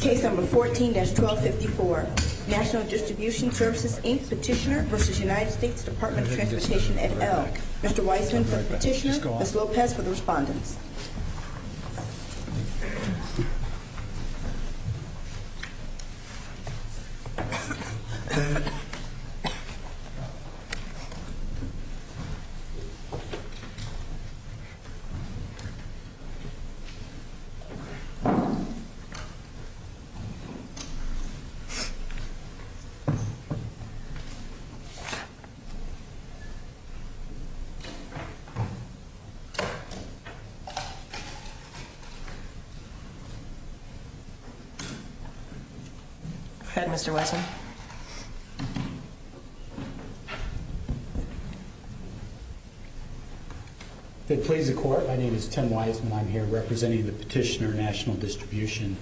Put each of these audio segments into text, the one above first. Case number 14-1254, National Distribution Services, Inc. Petitioner v. United States Department of Transportation et al. Mr. Weissman for the petitioner, Ms. Lopez for the respondent. Go ahead, Mr. Weissman. Thank you, Mr. Chairman. Ladies and gentlemen, my name is Tim Weissman. I'm here representing the petitioner, National Distribution.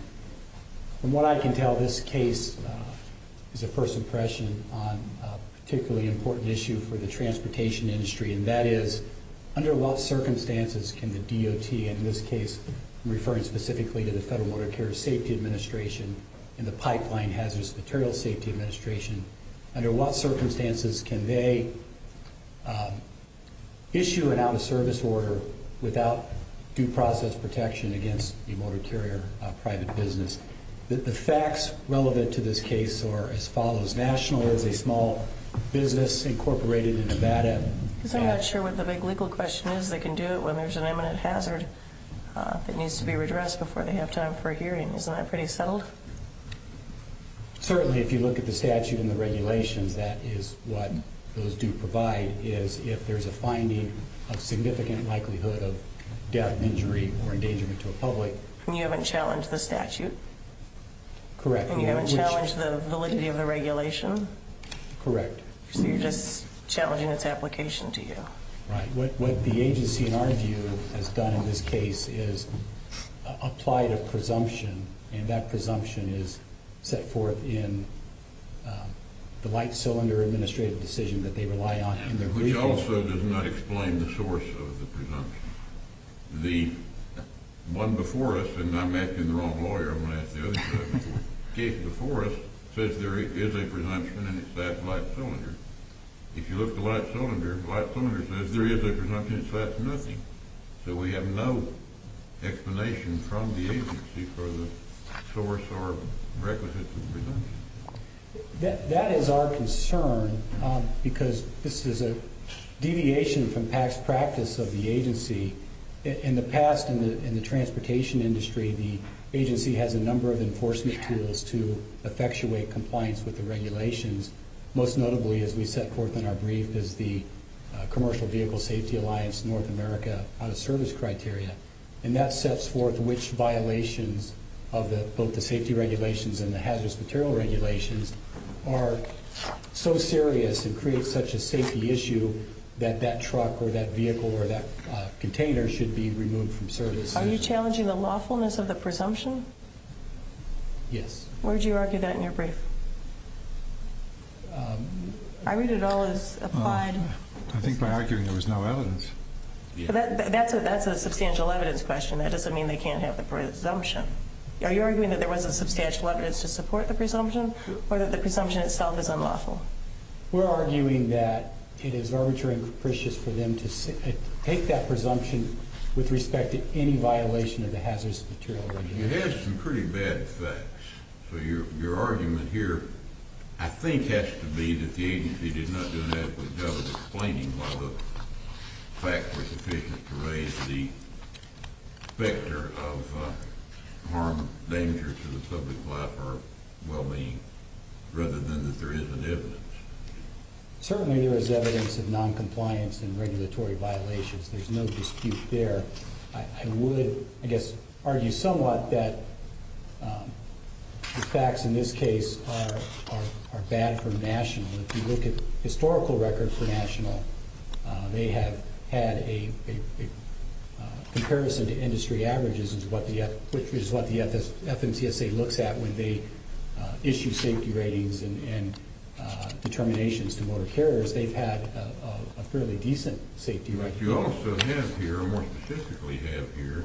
From what I can tell, this case is a first impression on a particularly important issue for the transportation industry, and that is under what circumstances can the DOT, in this case referring specifically to the Federal Water Care Safety Administration and the Pipeline Hazardous Materials Safety Administration, under what circumstances can they issue an out-of-service order without due process protection against a motor carrier private business? The facts relevant to this case are as follows. National is a small business incorporated in Nevada. Because I'm not sure what the big legal question is. They can do it when there's an imminent hazard that needs to be redressed before they have time for a hearing. Isn't that pretty settled? Certainly, if you look at the statute and the regulations, that is what those do provide, is if there's a finding of significant likelihood of death, injury, or endangerment to a public. And you haven't challenged the statute? Correct. And you haven't challenged the validity of the regulation? Correct. So you're just challenging its application to you? Right. What the agency, in our view, has done in this case is applied a presumption, and that presumption is set forth in the light cylinder administrative decision that they rely on. Which also does not explain the source of the presumption. The one before us, and I'm asking the wrong lawyer, I'm going to ask the other judge. The case before us says there is a presumption and it's that light cylinder. If you look at the light cylinder, the light cylinder says there is a presumption, so that's nothing. So we have no explanation from the agency for the source or requisite of the presumption. That is our concern because this is a deviation from past practice of the agency. In the past, in the transportation industry, the agency has a number of enforcement tools to effectuate compliance with the regulations, most notably, as we set forth in our brief, is the Commercial Vehicle Safety Alliance North America Out-of-Service Criteria. And that sets forth which violations of both the safety regulations and the hazardous material regulations are so serious and create such a safety issue that that truck or that vehicle or that container should be removed from service. Are you challenging the lawfulness of the presumption? Yes. Where do you argue that in your brief? I read it all as applied. I think by arguing there was no evidence. That's a substantial evidence question. That doesn't mean they can't have the presumption. Are you arguing that there wasn't substantial evidence to support the presumption or that the presumption itself is unlawful? We're arguing that it is arbitrary and capricious for them to take that presumption with respect to any violation of the hazardous material regulations. It has some pretty bad effects. So your argument here, I think, has to be that the agency did not do an adequate job of explaining why the facts were sufficient to raise the vector of harm, danger to the public life or well-being, rather than that there isn't evidence. Certainly there is evidence of noncompliance and regulatory violations. There's no dispute there. I would, I guess, argue somewhat that the facts in this case are bad for National. If you look at the historical record for National, they have had a comparison to industry averages, which is what the FMCSA looks at when they issue safety ratings and determinations to motor carriers. They've had a fairly decent safety rating. But you also have here, or more specifically have here,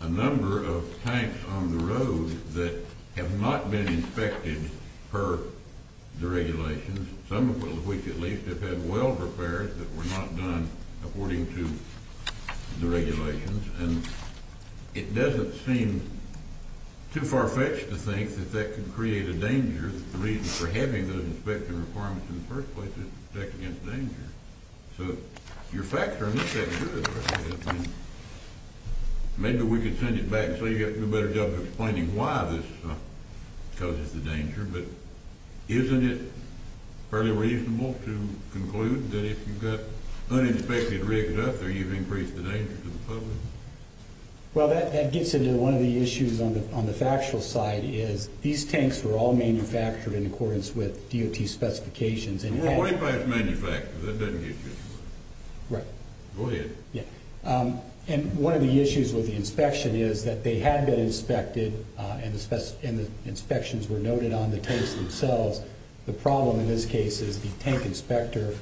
a number of tanks on the road that have not been inspected per the regulations. Some of which, at least, have had weld repairs that were not done according to the regulations. And it doesn't seem too far-fetched to think that that could create a danger. The reason for having those inspection requirements in the first place is to protect against danger. So your facts are in this case good. I mean, maybe we could send it back so you have to do a better job of explaining why this causes the danger. But isn't it fairly reasonable to conclude that if you've got uninspected rigs out there, you've increased the danger to the public? Well, that gets into one of the issues on the factual side is these tanks were all manufactured in accordance with DOT specifications. And one of the issues with the inspection is that they had been inspected and the inspections were noted on the tanks themselves. The problem in this case is the tank inspector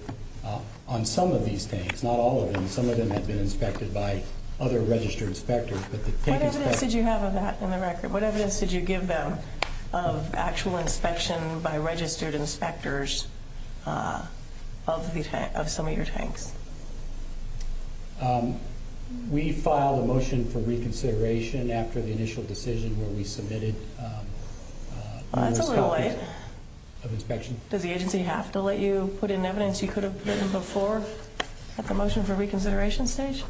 on some of these tanks, not all of them. Some of them had been inspected by other registered inspectors. What evidence did you have of that in the record? What evidence did you give them of actual inspection by registered inspectors of some of your tanks? We filed a motion for reconsideration after the initial decision where we submitted numerous copies of inspection. Well, that's a little late. Does the agency have to let you put in evidence you could have put in before at the motion for reconsideration stage?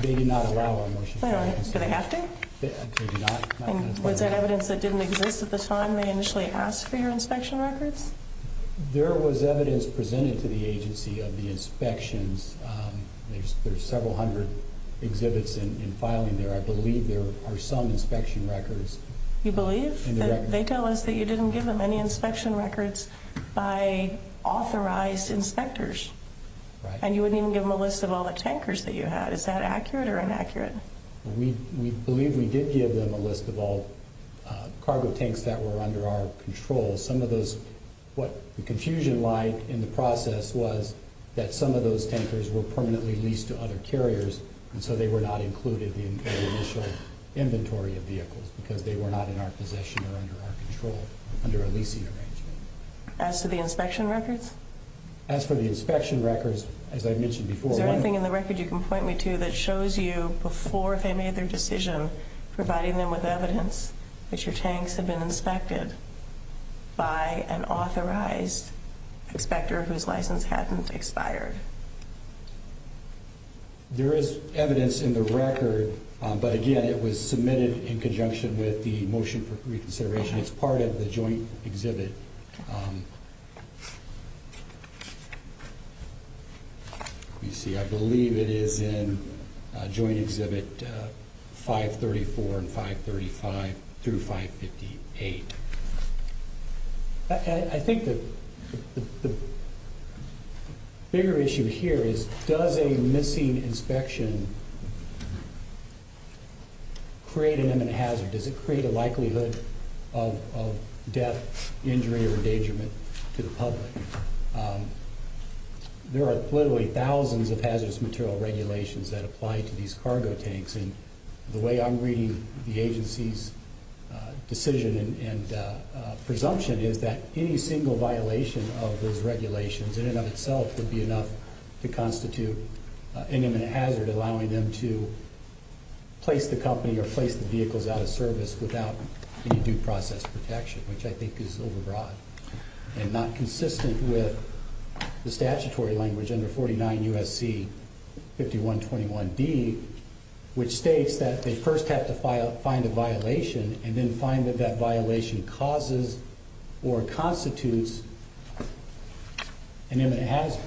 They did not allow our motion for reconsideration. Do they have to? They do not. Was that evidence that didn't exist at the time they initially asked for your inspection records? There was evidence presented to the agency of the inspections. There's several hundred exhibits in filing there. I believe there are some inspection records. You believe? They tell us that you didn't give them any inspection records by authorized inspectors. And you wouldn't even give them a list of all the tankers that you had. Is that accurate or inaccurate? We believe we did give them a list of all cargo tanks that were under our control. Some of those, what the confusion line in the process was that some of those tankers were permanently leased to other carriers, and so they were not included in the initial inventory of vehicles because they were not in our possession or under our control, under a leasing arrangement. As to the inspection records? As for the inspection records, as I mentioned before, Is there anything in the record you can point me to that shows you before they made their decision providing them with evidence that your tanks had been inspected by an authorized inspector whose license hadn't expired? There is evidence in the record, but again, it was submitted in conjunction with the motion for reconsideration. It's part of the joint exhibit. Let me see. I believe it is in joint exhibit 534 and 535 through 558. I think the bigger issue here is does a missing inspection create an imminent hazard? Does it create a likelihood of death, injury, or endangerment to the public? There are literally thousands of hazardous material regulations that apply to these cargo tanks, and the way I'm reading the agency's decision and presumption is that any single violation of those regulations in and of itself would be enough to constitute an imminent hazard, allowing them to place the company or place the vehicles out of service without any due process protection, which I think is overbroad and not consistent with the statutory language under 49 U.S.C. 5121D, which states that they first have to find a violation and then find that that violation causes or constitutes an imminent hazard.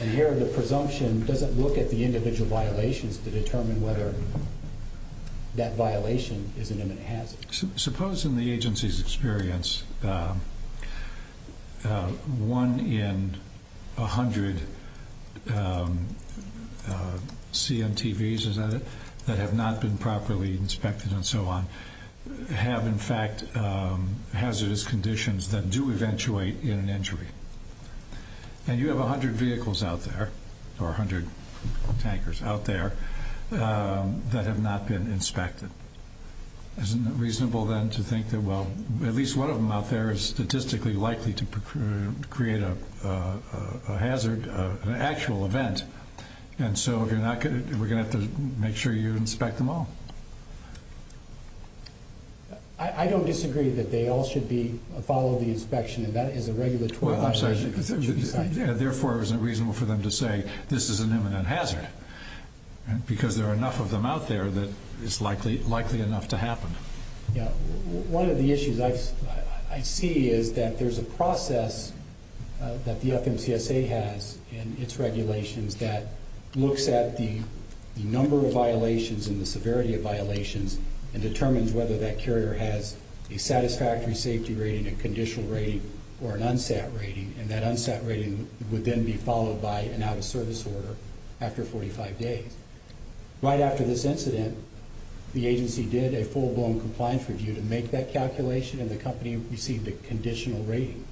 And here the presumption doesn't look at the individual violations to determine whether that violation is an imminent hazard. Suppose in the agency's experience one in 100 CMTVs, is that it, that have not been properly inspected and so on, have in fact hazardous conditions that do eventuate in an injury. And you have 100 vehicles out there, or 100 tankers out there, that have not been inspected. Isn't it reasonable then to think that, well, at least one of them out there is statistically likely to create a hazard, an actual event, and so we're going to have to make sure you inspect them all? I don't disagree that they all should follow the inspection, and that is a regulatory violation. Therefore, is it reasonable for them to say this is an imminent hazard? Because there are enough of them out there that it's likely enough to happen. One of the issues I see is that there's a process that the FMCSA has in its regulations that looks at the number of violations and the severity of violations and determines whether that carrier has a satisfactory safety rating, a conditional rating, or an unsat rating, and that unsat rating would then be followed by an out-of-service order after 45 days. Right after this incident, the agency did a full-blown compliance review to make that calculation, and the company received a conditional rating,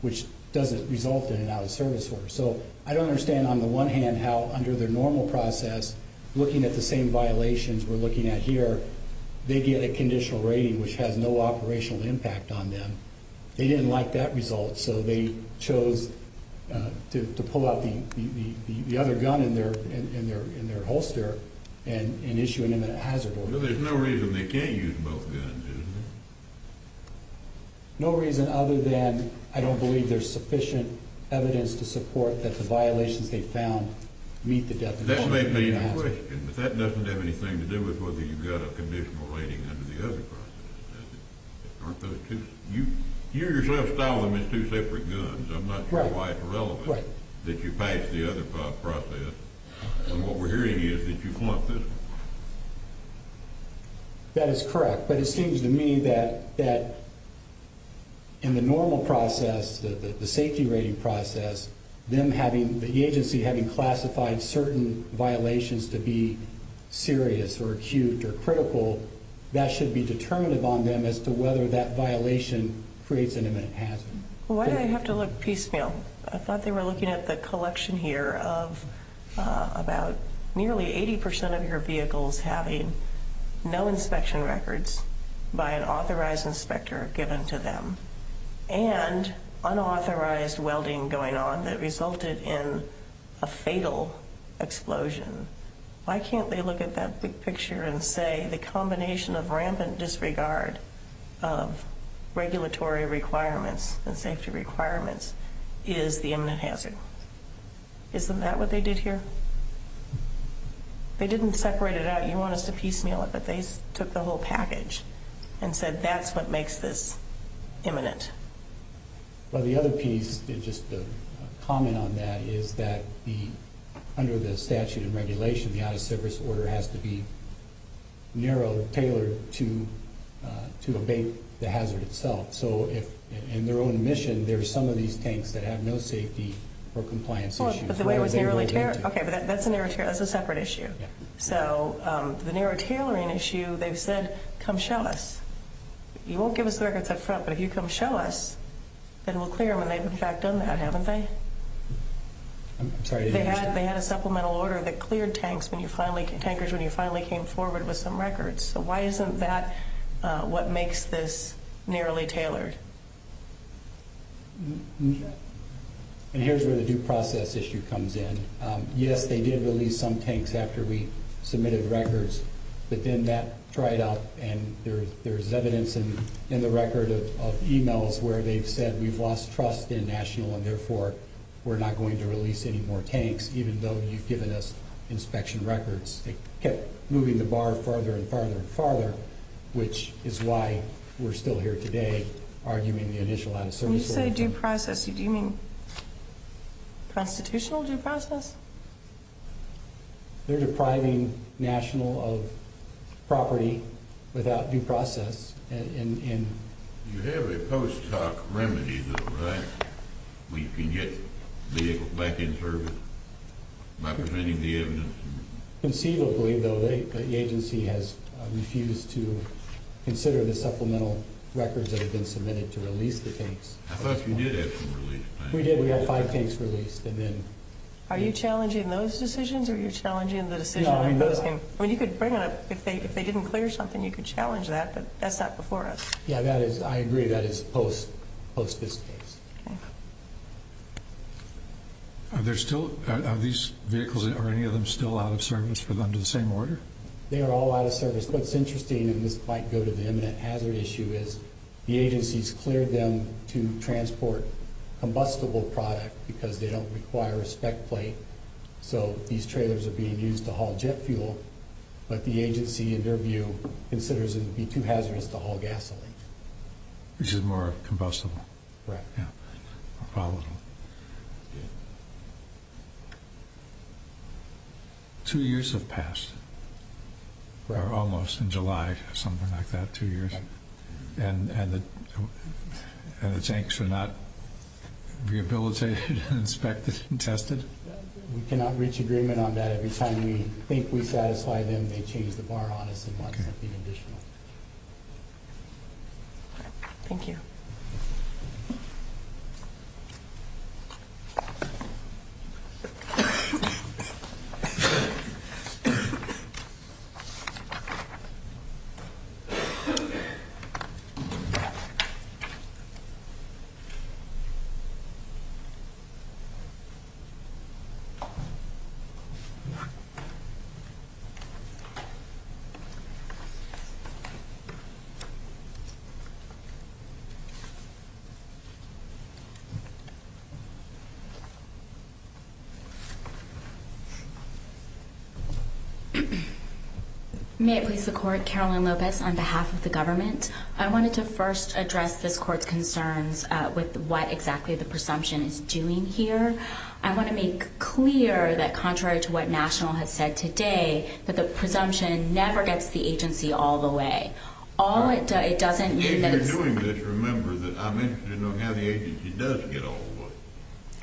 which doesn't result in an out-of-service order. So I don't understand, on the one hand, how under their normal process, looking at the same violations we're looking at here, they get a conditional rating which has no operational impact on them. They didn't like that result, so they chose to pull out the other gun in their holster and issue an imminent hazard order. Well, there's no reason they can't use both guns, is there? No reason other than I don't believe there's sufficient evidence to support that the violations they found meet the definition. That may be the question, but that doesn't have anything to do with whether you've got a conditional rating under the other process, does it? You yourself style them as two separate guns. I'm not sure why it's relevant that you patch the other process. What we're hearing is that you flunked this one. That is correct, but it seems to me that in the normal process, the safety rating process, the agency having classified certain violations to be serious or acute or critical, that should be determinative on them as to whether that violation creates an imminent hazard. Why do they have to look piecemeal? I thought they were looking at the collection here of about nearly 80% of your vehicles having no inspection records by an authorized inspector given to them and unauthorized welding going on that resulted in a fatal explosion. Why can't they look at that big picture and say the combination of rampant disregard of regulatory requirements and safety requirements is the imminent hazard? Isn't that what they did here? They didn't separate it out. You want us to piecemeal it, but they took the whole package and said that's what makes this imminent. The other piece, just a comment on that, is that under the statute and regulation, the out-of-service order has to be narrow, tailored to abate the hazard itself. In their own admission, there are some of these tanks that have no safety or compliance issues. That's a separate issue. The narrow tailoring issue, they've said, come show us. You won't give us the records up front, but if you come show us, then we'll clear them, and they've, in fact, done that, haven't they? They had a supplemental order that cleared tankers when you finally came forward with some records. So why isn't that what makes this nearly tailored? Here's where the due process issue comes in. Yes, they did release some tanks after we submitted records, but then that dried up, and there's evidence in the record of e-mails where they've said we've lost trust in National, and therefore we're not going to release any more tanks, even though you've given us inspection records. They kept moving the bar farther and farther and farther, which is why we're still here today arguing the initial out-of-service order. When you say due process, do you mean constitutional due process? They're depriving National of property without due process. You have a post hoc remedy, though, right, where you can get vehicles back in service by presenting the evidence? Conceivably, though, the agency has refused to consider the supplemental records that have been submitted to release the tanks. I thought you did have some released tanks. We did. We had five tanks released. Are you challenging those decisions, or are you challenging the decision? No, we're not. You could bring it up. If they didn't clear something, you could challenge that, but that's not before us. Yeah, I agree. That is post this case. Are these vehicles, or any of them, still out of service for them to the same order? They are all out of service. What's interesting, and this might go to the imminent hazard issue, is the agency's cleared them to transport combustible product because they don't require a spec plate. So these trailers are being used to haul jet fuel, but the agency, in their view, considers it to be too hazardous to haul gasoline. Which is more combustible. Right. Yeah. Two years have passed, or almost, in July, something like that, two years. And the tanks are not rehabilitated, inspected, and tested? We cannot reach agreement on that. Every time we think we satisfy them, they change the bar on us and want something additional. Thank you. Thank you. Thank you. May it please the Court, Caroline Lopez on behalf of the government. I wanted to first address this Court's concerns with what exactly the presumption is doing here. I want to make clear that contrary to what National has said today, that the presumption never gets the agency all the way. If you're doing this, remember that I'm interested to know how the agency does get all the way.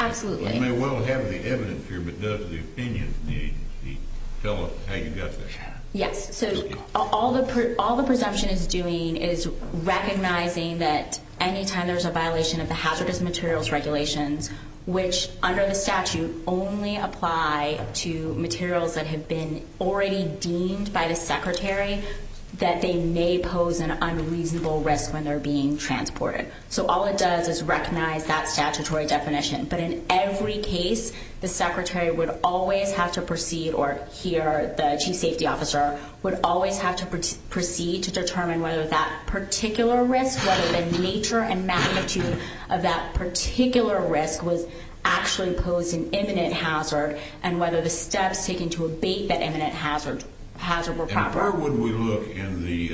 Absolutely. You may well have the evidence here, but does the opinion of the agency tell us how you got there? Yes. So all the presumption is doing is recognizing that any time there's a violation of the hazardous materials regulations, which under the statute only apply to materials that have been already deemed by the Secretary, that they may pose an unreasonable risk when they're being transported. So all it does is recognize that statutory definition. But in every case, the Secretary would always have to proceed, or here, the Chief Safety Officer, would always have to proceed to determine whether that particular risk, whether the nature and magnitude of that particular risk, was actually posing imminent hazard and whether the steps taken to abate that imminent hazard were proper. Why would we look in the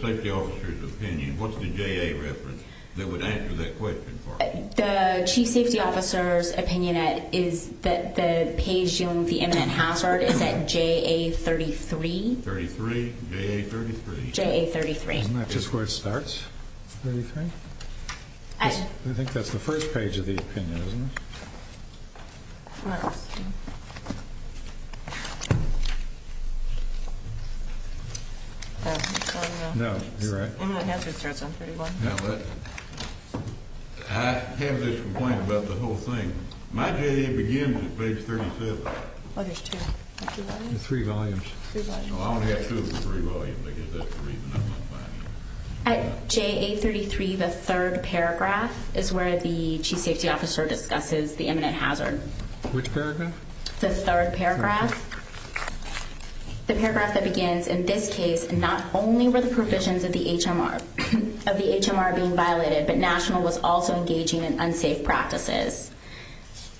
safety officer's opinion? What's the JA reference that would answer that question for us? The Chief Safety Officer's opinion is that the page dealing with the imminent hazard is at JA33. 33, JA33. JA33. Isn't that just where it starts, 33? I think that's the first page of the opinion, isn't it? No. No, you're right. Imminent hazard starts on 31. I have this complaint about the whole thing. My JA begins at page 37. Oh, there's two. Three volumes. Three volumes. I only have two of the three volumes because that's the reason I'm not finding it. At JA33, the third paragraph is where the Chief Safety Officer discusses the imminent hazard. Which paragraph? The third paragraph. The paragraph that begins, in this case, not only were the provisions of the HMR being violated, but National was also engaging in unsafe practices.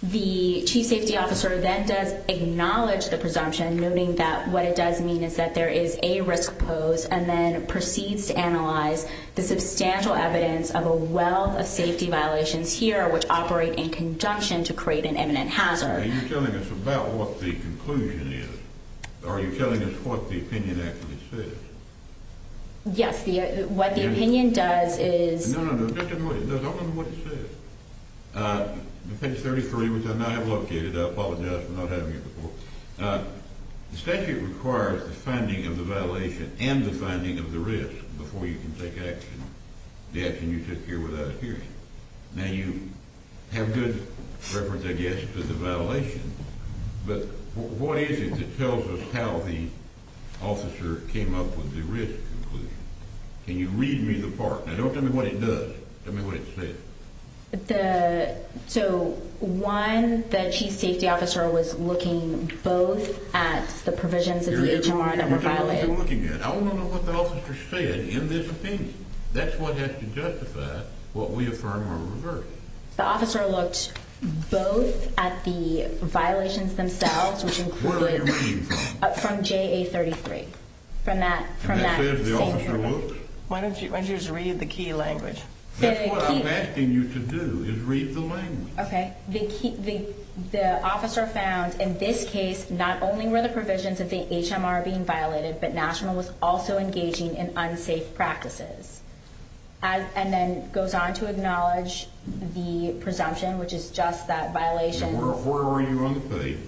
The Chief Safety Officer then does acknowledge the presumption, noting that what it does mean is that there is a risk pose, and then proceeds to analyze the substantial evidence of a wealth of safety violations here, which operate in conjunction to create an imminent hazard. Are you telling us about what the conclusion is? Are you telling us what the opinion actually says? Yes. What the opinion does is – No, no, no. Just tell me what it does. I want to know what it says. Page 33, which I now have located. I apologize for not having it before. The statute requires the finding of the violation and the finding of the risk before you can take action, the action you took here without a hearing. Now, you have good reference, I guess, to the violation, but what is it that tells us how the officer came up with the risk conclusion? Can you read me the part? Now, don't tell me what it does. Tell me what it says. So, one, the chief safety officer was looking both at the provisions of the HMR that were violated. I want to know what the officer said in this opinion. That's what has to justify what we affirm or reverse. The officer looked both at the violations themselves, which included – Where are you reading from? From JA-33. And that says the officer looks? Why don't you just read the key language? That's what I'm asking you to do, is read the language. Okay. The officer found, in this case, not only were the provisions of the HMR being violated, but National was also engaging in unsafe practices, and then goes on to acknowledge the presumption, which is just that violations – Now, where were you on the page?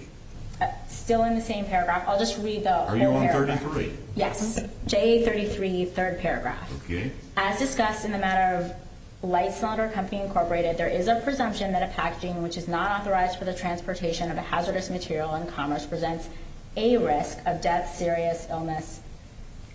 Still in the same paragraph. I'll just read the whole paragraph. Are you on 33? Yes. JA-33, third paragraph. Okay. As discussed in the matter of Light Cylinder Company, Incorporated, there is a presumption that a packaging which is not authorized for the transportation of a hazardous material in commerce presents a risk of death, serious illness,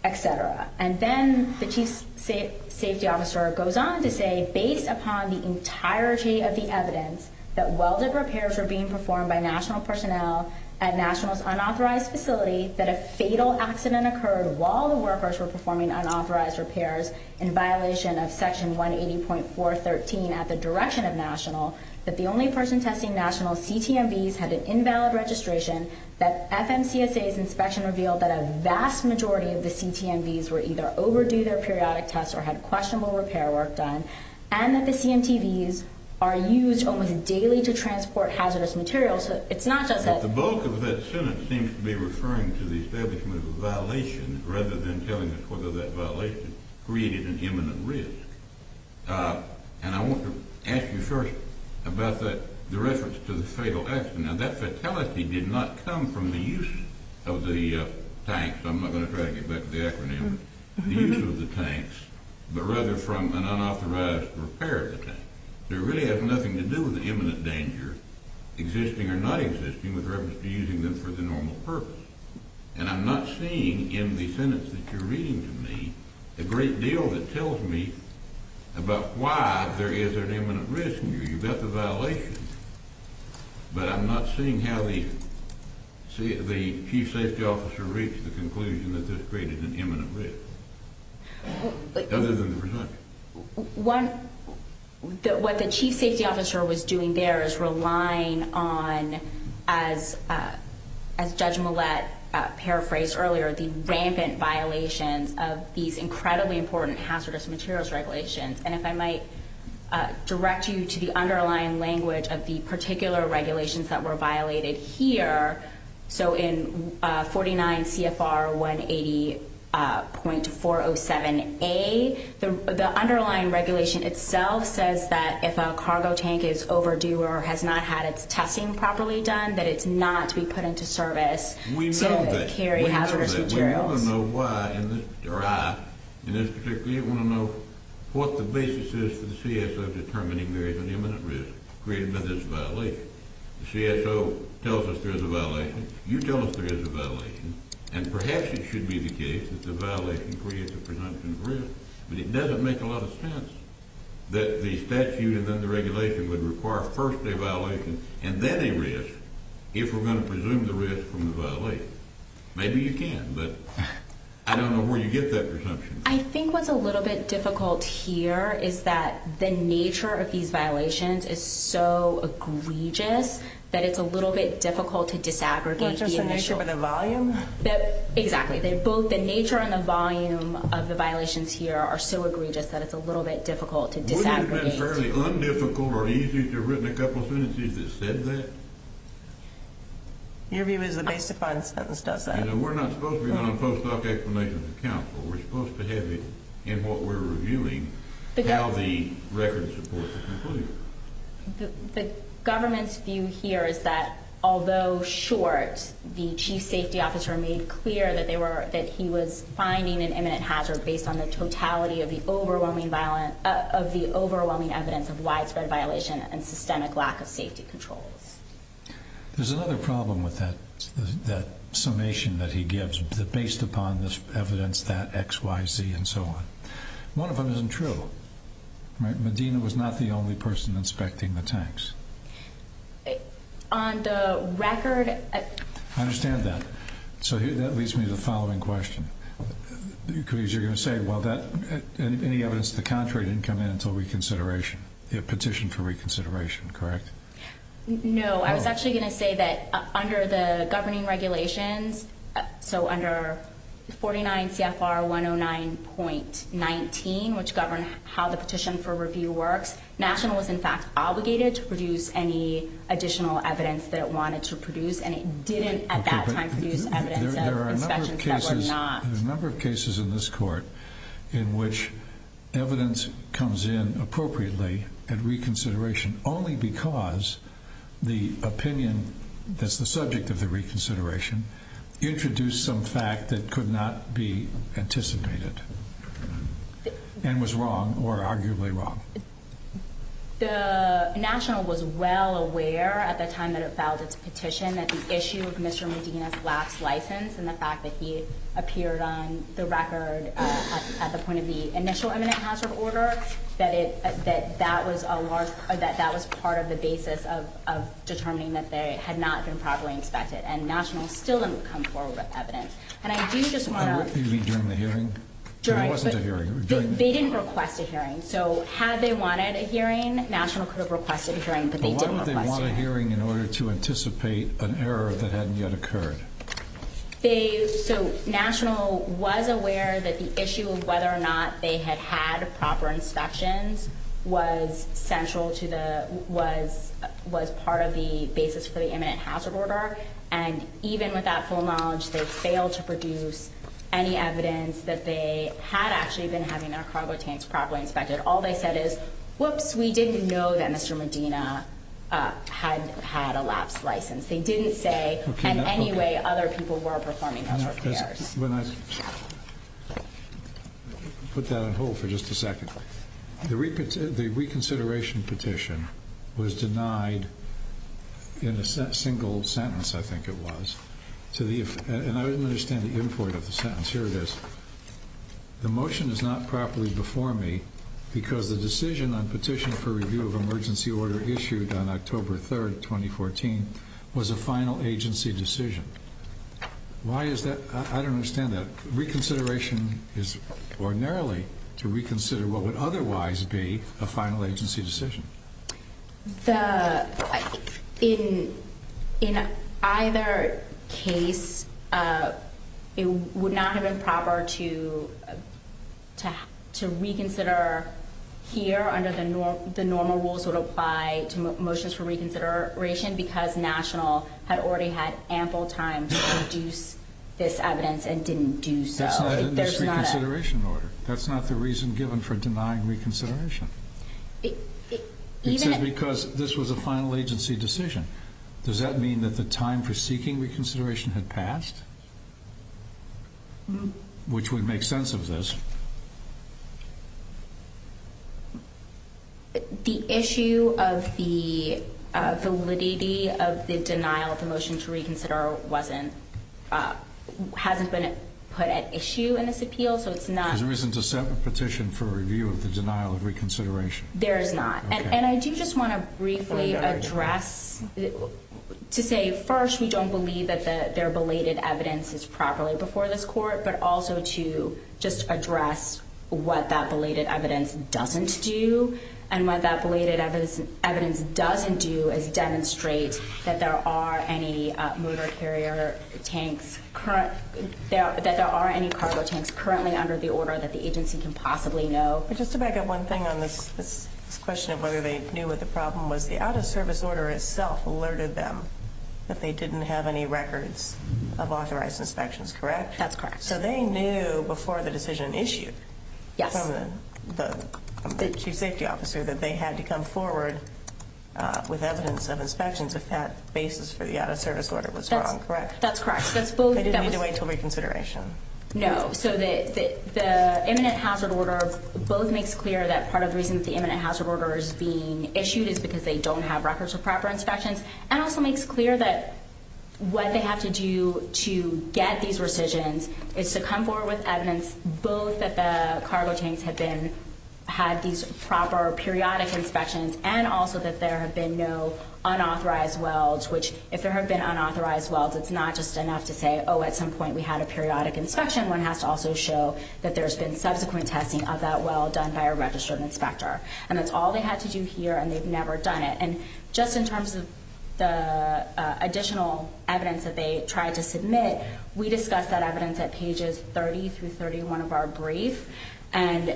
et cetera. And then the chief safety officer goes on to say, based upon the entirety of the evidence that welded repairs were being performed by National personnel at National's unauthorized facility, that a fatal accident occurred while the workers were performing unauthorized repairs in violation of Section 180.413 at the direction of National, that the only person testing National's CTMVs had an invalid registration, that FMCSA's inspection revealed that a vast majority of the CTMVs were either overdue their periodic tests or had questionable repair work done, and that the CMTVs are used almost daily to transport hazardous materials. It's not just that – the statement seems to be referring to the establishment of a violation rather than telling us whether that violation created an imminent risk. And I want to ask you first about the reference to the fatal accident. Now, that fatality did not come from the use of the tanks – I'm not going to drag you back to the acronym – the use of the tanks, but rather from an unauthorized repair of the tanks. It really has nothing to do with the imminent danger, existing or not existing, with reference to using them for the normal purpose. And I'm not seeing in the sentence that you're reading to me a great deal that tells me about why there is an imminent risk. You've got the violation, but I'm not seeing how the chief safety officer reached the conclusion What the chief safety officer was doing there is relying on, as Judge Millett paraphrased earlier, the rampant violations of these incredibly important hazardous materials regulations. And if I might direct you to the underlying language of the particular regulations that were violated here, so in 49 CFR 180.407A, the underlying regulation itself says that if a cargo tank is overdue or has not had its testing properly done, that it's not to be put into service to carry hazardous materials. We know that. We know that. We want to know why in this – or I, in this particular – we want to know what the basis is for the CSO determining there is an imminent risk created by this violation. The CSO tells us there is a violation. You tell us there is a violation. And perhaps it should be the case that the violation creates a presumption of risk. But it doesn't make a lot of sense that the statute and then the regulation would require a first-day violation and then a risk if we're going to presume the risk from the violation. Maybe you can, but I don't know where you get that presumption from. I think what's a little bit difficult here is that the nature of these violations is so egregious that it's a little bit difficult to disaggregate the initial – Exactly. Both the nature and the volume of the violations here are so egregious that it's a little bit difficult to disaggregate. Wouldn't it have been fairly un-difficult or easy to have written a couple sentences that said that? Your view is the basic fine sentence, doesn't it? You know, we're not supposed to be on a post-doc explanation for counsel. We're supposed to have it in what we're reviewing, how the records support the conclusion. The government's view here is that although short, the chief safety officer made clear that he was finding an imminent hazard based on the totality of the overwhelming evidence of widespread violation and systemic lack of safety controls. There's another problem with that summation that he gives based upon this evidence, that X, Y, Z, and so on. One of them isn't true. Medina was not the only person inspecting the tanks. On the record... I understand that. So that leads me to the following question. Because you're going to say, well, any evidence to the contrary didn't come in until reconsideration, the petition for reconsideration, correct? No, I was actually going to say that under the governing regulations, so under 49 CFR 109.19, which govern how the petition for review works, National was in fact obligated to produce any additional evidence that it wanted to produce, and it didn't at that time produce evidence of inspections that were not. There are a number of cases in this court in which evidence comes in appropriately at reconsideration only because the opinion that's the subject of the reconsideration introduced some fact that could not be anticipated and was wrong or arguably wrong. The National was well aware at the time that it filed its petition that the issue of Mr. Medina's lapse license and the fact that he appeared on the record at the point of the initial eminent hazard order, that that was part of the basis of determining that they had not been properly inspected, and National still didn't come forward with evidence. What do you mean during the hearing? There wasn't a hearing. They didn't request a hearing, so had they wanted a hearing, National could have requested a hearing, but they didn't request a hearing. But why would they want a hearing in order to anticipate an error that hadn't yet occurred? So National was aware that the issue of whether or not they had had proper inspections was central to the, was part of the basis for the eminent hazard order, and even with that full knowledge, they failed to produce any evidence that they had actually been having their cargo tanks properly inspected. All they said is, whoops, we didn't know that Mr. Medina had had a lapse license. They didn't say in any way other people were performing hazard repairs. Put that on hold for just a second. The reconsideration petition was denied in a single sentence, I think it was. And I didn't understand the import of the sentence. Here it is. The motion is not properly before me because the decision on petition for review of emergency order issued on October 3, 2014, was a final agency decision. Why is that? I don't understand that. Reconsideration is ordinarily to reconsider what would otherwise be a final agency decision. The, in either case, it would not have been proper to reconsider here under the normal rules that apply to motions for reconsideration because National had already had ample time to produce this evidence and didn't do so. That's not in this reconsideration order. That's not the reason given for denying reconsideration. It says because this was a final agency decision. Does that mean that the time for seeking reconsideration had passed? Which would make sense of this. The issue of the validity of the denial of the motion to reconsider wasn't, hasn't been put at issue in this appeal, so it's not. There isn't a petition for review of the denial of reconsideration. There is not. And I do just want to briefly address, to say, first, we don't believe that their belated evidence is properly before this court, but also to just address what that belated evidence doesn't do and what that belated evidence doesn't do is demonstrate that there are any motor carrier tanks, that there are any cargo tanks currently under the order that the agency can possibly know. Just to back up one thing on this question of whether they knew what the problem was, the out-of-service order itself alerted them that they didn't have any records of authorized inspections, correct? That's correct. So they knew before the decision issued from the chief safety officer that they had to come forward with evidence of inspections if that basis for the out-of-service order was wrong, correct? That's correct. They didn't need to wait until reconsideration. No. So the imminent hazard order both makes clear that part of the reason that the imminent hazard order is being issued is because they don't have records of proper inspections and also makes clear that what they have to do to get these rescissions is to come forward with evidence both that the cargo tanks had these proper periodic inspections and also that there have been no unauthorized welds, which if there have been unauthorized welds, it's not just enough to say, oh, at some point we had a periodic inspection. One has to also show that there's been subsequent testing of that weld done by a registered inspector. And that's all they had to do here, and they've never done it. And just in terms of the additional evidence that they tried to submit, we discussed that evidence at pages 30 through 31 of our brief. And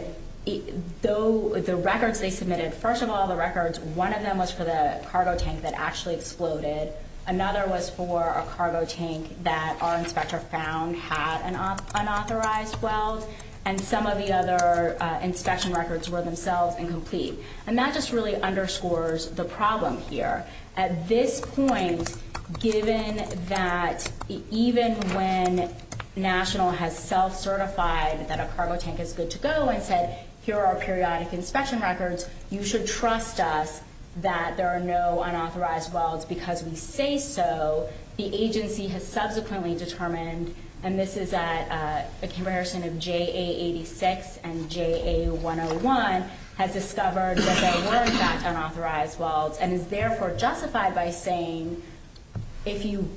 the records they submitted, first of all, the records, one of them was for the cargo tank that actually exploded. Another was for a cargo tank that our inspector found had an unauthorized weld. And some of the other inspection records were themselves incomplete. And that just really underscores the problem here. At this point, given that even when National has self-certified that a cargo tank is good to go and said, here are our periodic inspection records, you should trust us that there are no unauthorized welds. Because we say so, the agency has subsequently determined, and this is at a comparison of JA-86 and JA-101, has discovered that there were in fact unauthorized welds and is therefore justified by saying, if you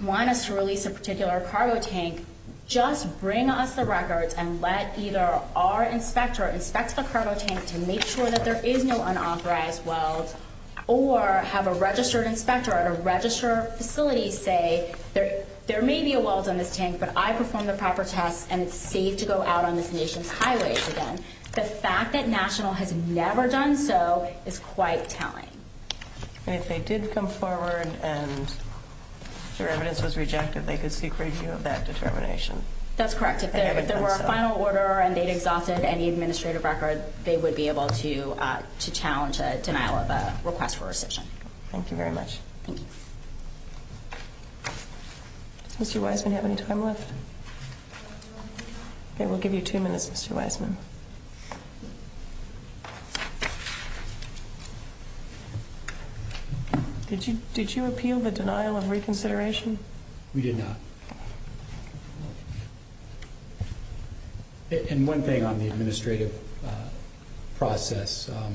want us to release a particular cargo tank, just bring us the records and let either our inspector inspect the cargo tank to make sure that there is no unauthorized weld, or have a registered inspector at a registered facility say, there may be a weld on this tank, but I performed the proper tests and it's safe to go out on this nation's highways again. The fact that National has never done so is quite telling. And if they did come forward and their evidence was rejected, they could seek review of that determination? That's correct. If there were a final order and they'd exhausted any administrative record, they would be able to challenge a denial of a request for rescission. Thank you very much. Thank you. Mr. Wiseman, do you have any time left? Okay, we'll give you two minutes, Mr. Wiseman. Did you appeal the denial of reconsideration? We did not. And one thing on the administrative process I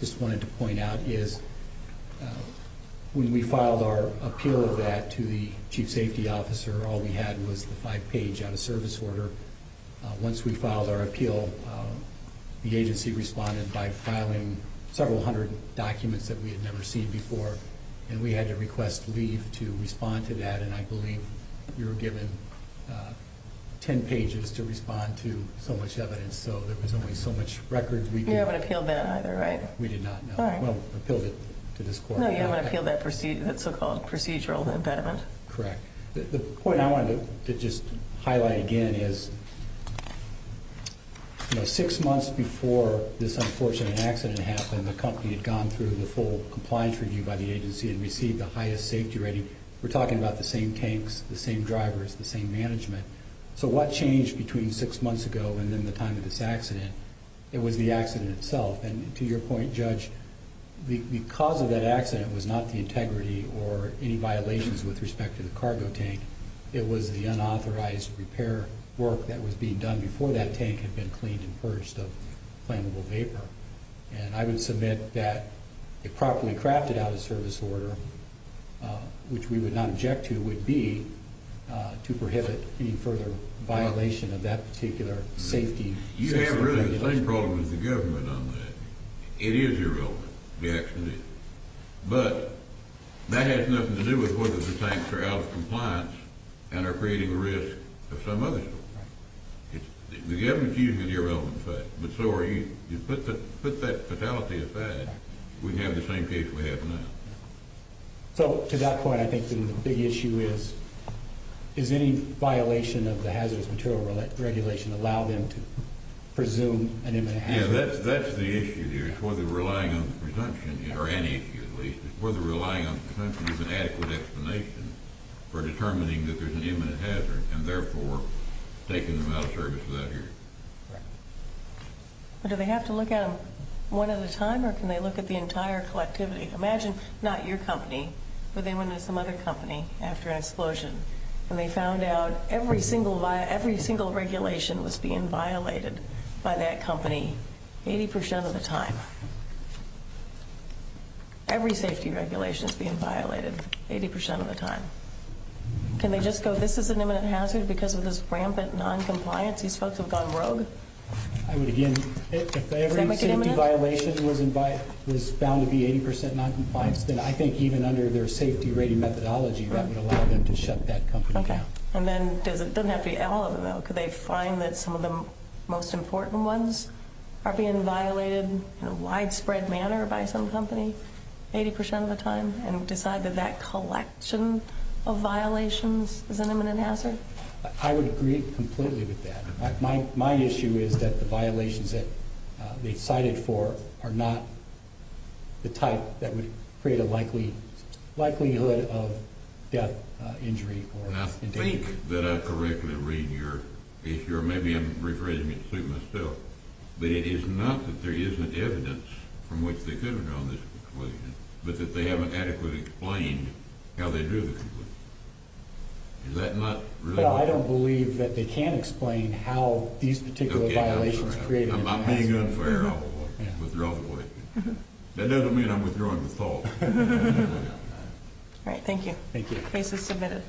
just wanted to point out is when we filed our appeal of that to the chief safety officer, all we had was the five-page out-of-service order. Once we filed our appeal, the agency responded by filing several hundred documents that we had never seen before, and we had to request leave to respond to that, and I believe you were given ten pages to respond to so much evidence, so there was only so much record. You haven't appealed that either, right? We did not, no. Well, we appealed it to this court. No, you haven't appealed that so-called procedural impediment. Correct. The point I wanted to just highlight again is, you know, six months before this unfortunate accident happened, the company had gone through the full compliance review by the agency and received the highest safety rating. We're talking about the same tanks, the same drivers, the same management. So what changed between six months ago and then the time of this accident? It was the accident itself, and to your point, Judge, the cause of that accident was not the integrity or any violations with respect to the cargo tank. It was the unauthorized repair work that was being done before that tank had been cleaned and purged of flammable vapor. And I would submit that it properly crafted out-of-service order, which we would not object to, would be to prohibit any further violation of that particular safety. You have really the same problem as the government on that. It is irrelevant, the accident is. But that has nothing to do with whether the tanks are out of compliance and are creating a risk to some others. The government's using an irrelevant fact, but so are you, you put that fatality aside, we'd have the same case we have now. So to that point, I think the big issue is, is any violation of the hazardous material regulation allow them to presume an imminent hazard? Yeah, that's the issue here is whether relying on the presumption, or any issue at least, is whether relying on the presumption is an adequate explanation for determining that there's an imminent hazard and therefore taking them out of service without hearing it. But do they have to look at them one at a time, or can they look at the entire collectivity? Imagine not your company, but they went into some other company after an explosion, and they found out every single regulation was being violated by that company 80% of the time. Every safety regulation is being violated 80% of the time. Can they just go, this is an imminent hazard because of this rampant non-compliance? These folks have gone rogue. I would again, if every safety violation was found to be 80% non-compliance, then I think even under their safety rating methodology, that would allow them to shut that company down. Okay, and then it doesn't have to be all of them, though. Could they find that some of the most important ones are being violated in a widespread manner by some company 80% of the time and decide that that collection of violations is an imminent hazard? I would agree completely with that. My issue is that the violations that they've cited for are not the type that would create a likelihood of death, injury, or endangerment. I think that I correctly read your issue, or maybe I'm rephrasing it to suit myself, but it is not that there isn't evidence from which they could have drawn this conclusion, but that they haven't adequately explained how they drew the conclusion. Is that not really what you're saying? I don't believe that they can explain how these particular violations created a hazard. I'm not being unfair at all. That doesn't mean I'm withdrawing the fault. All right, thank you. Thank you. Case is submitted.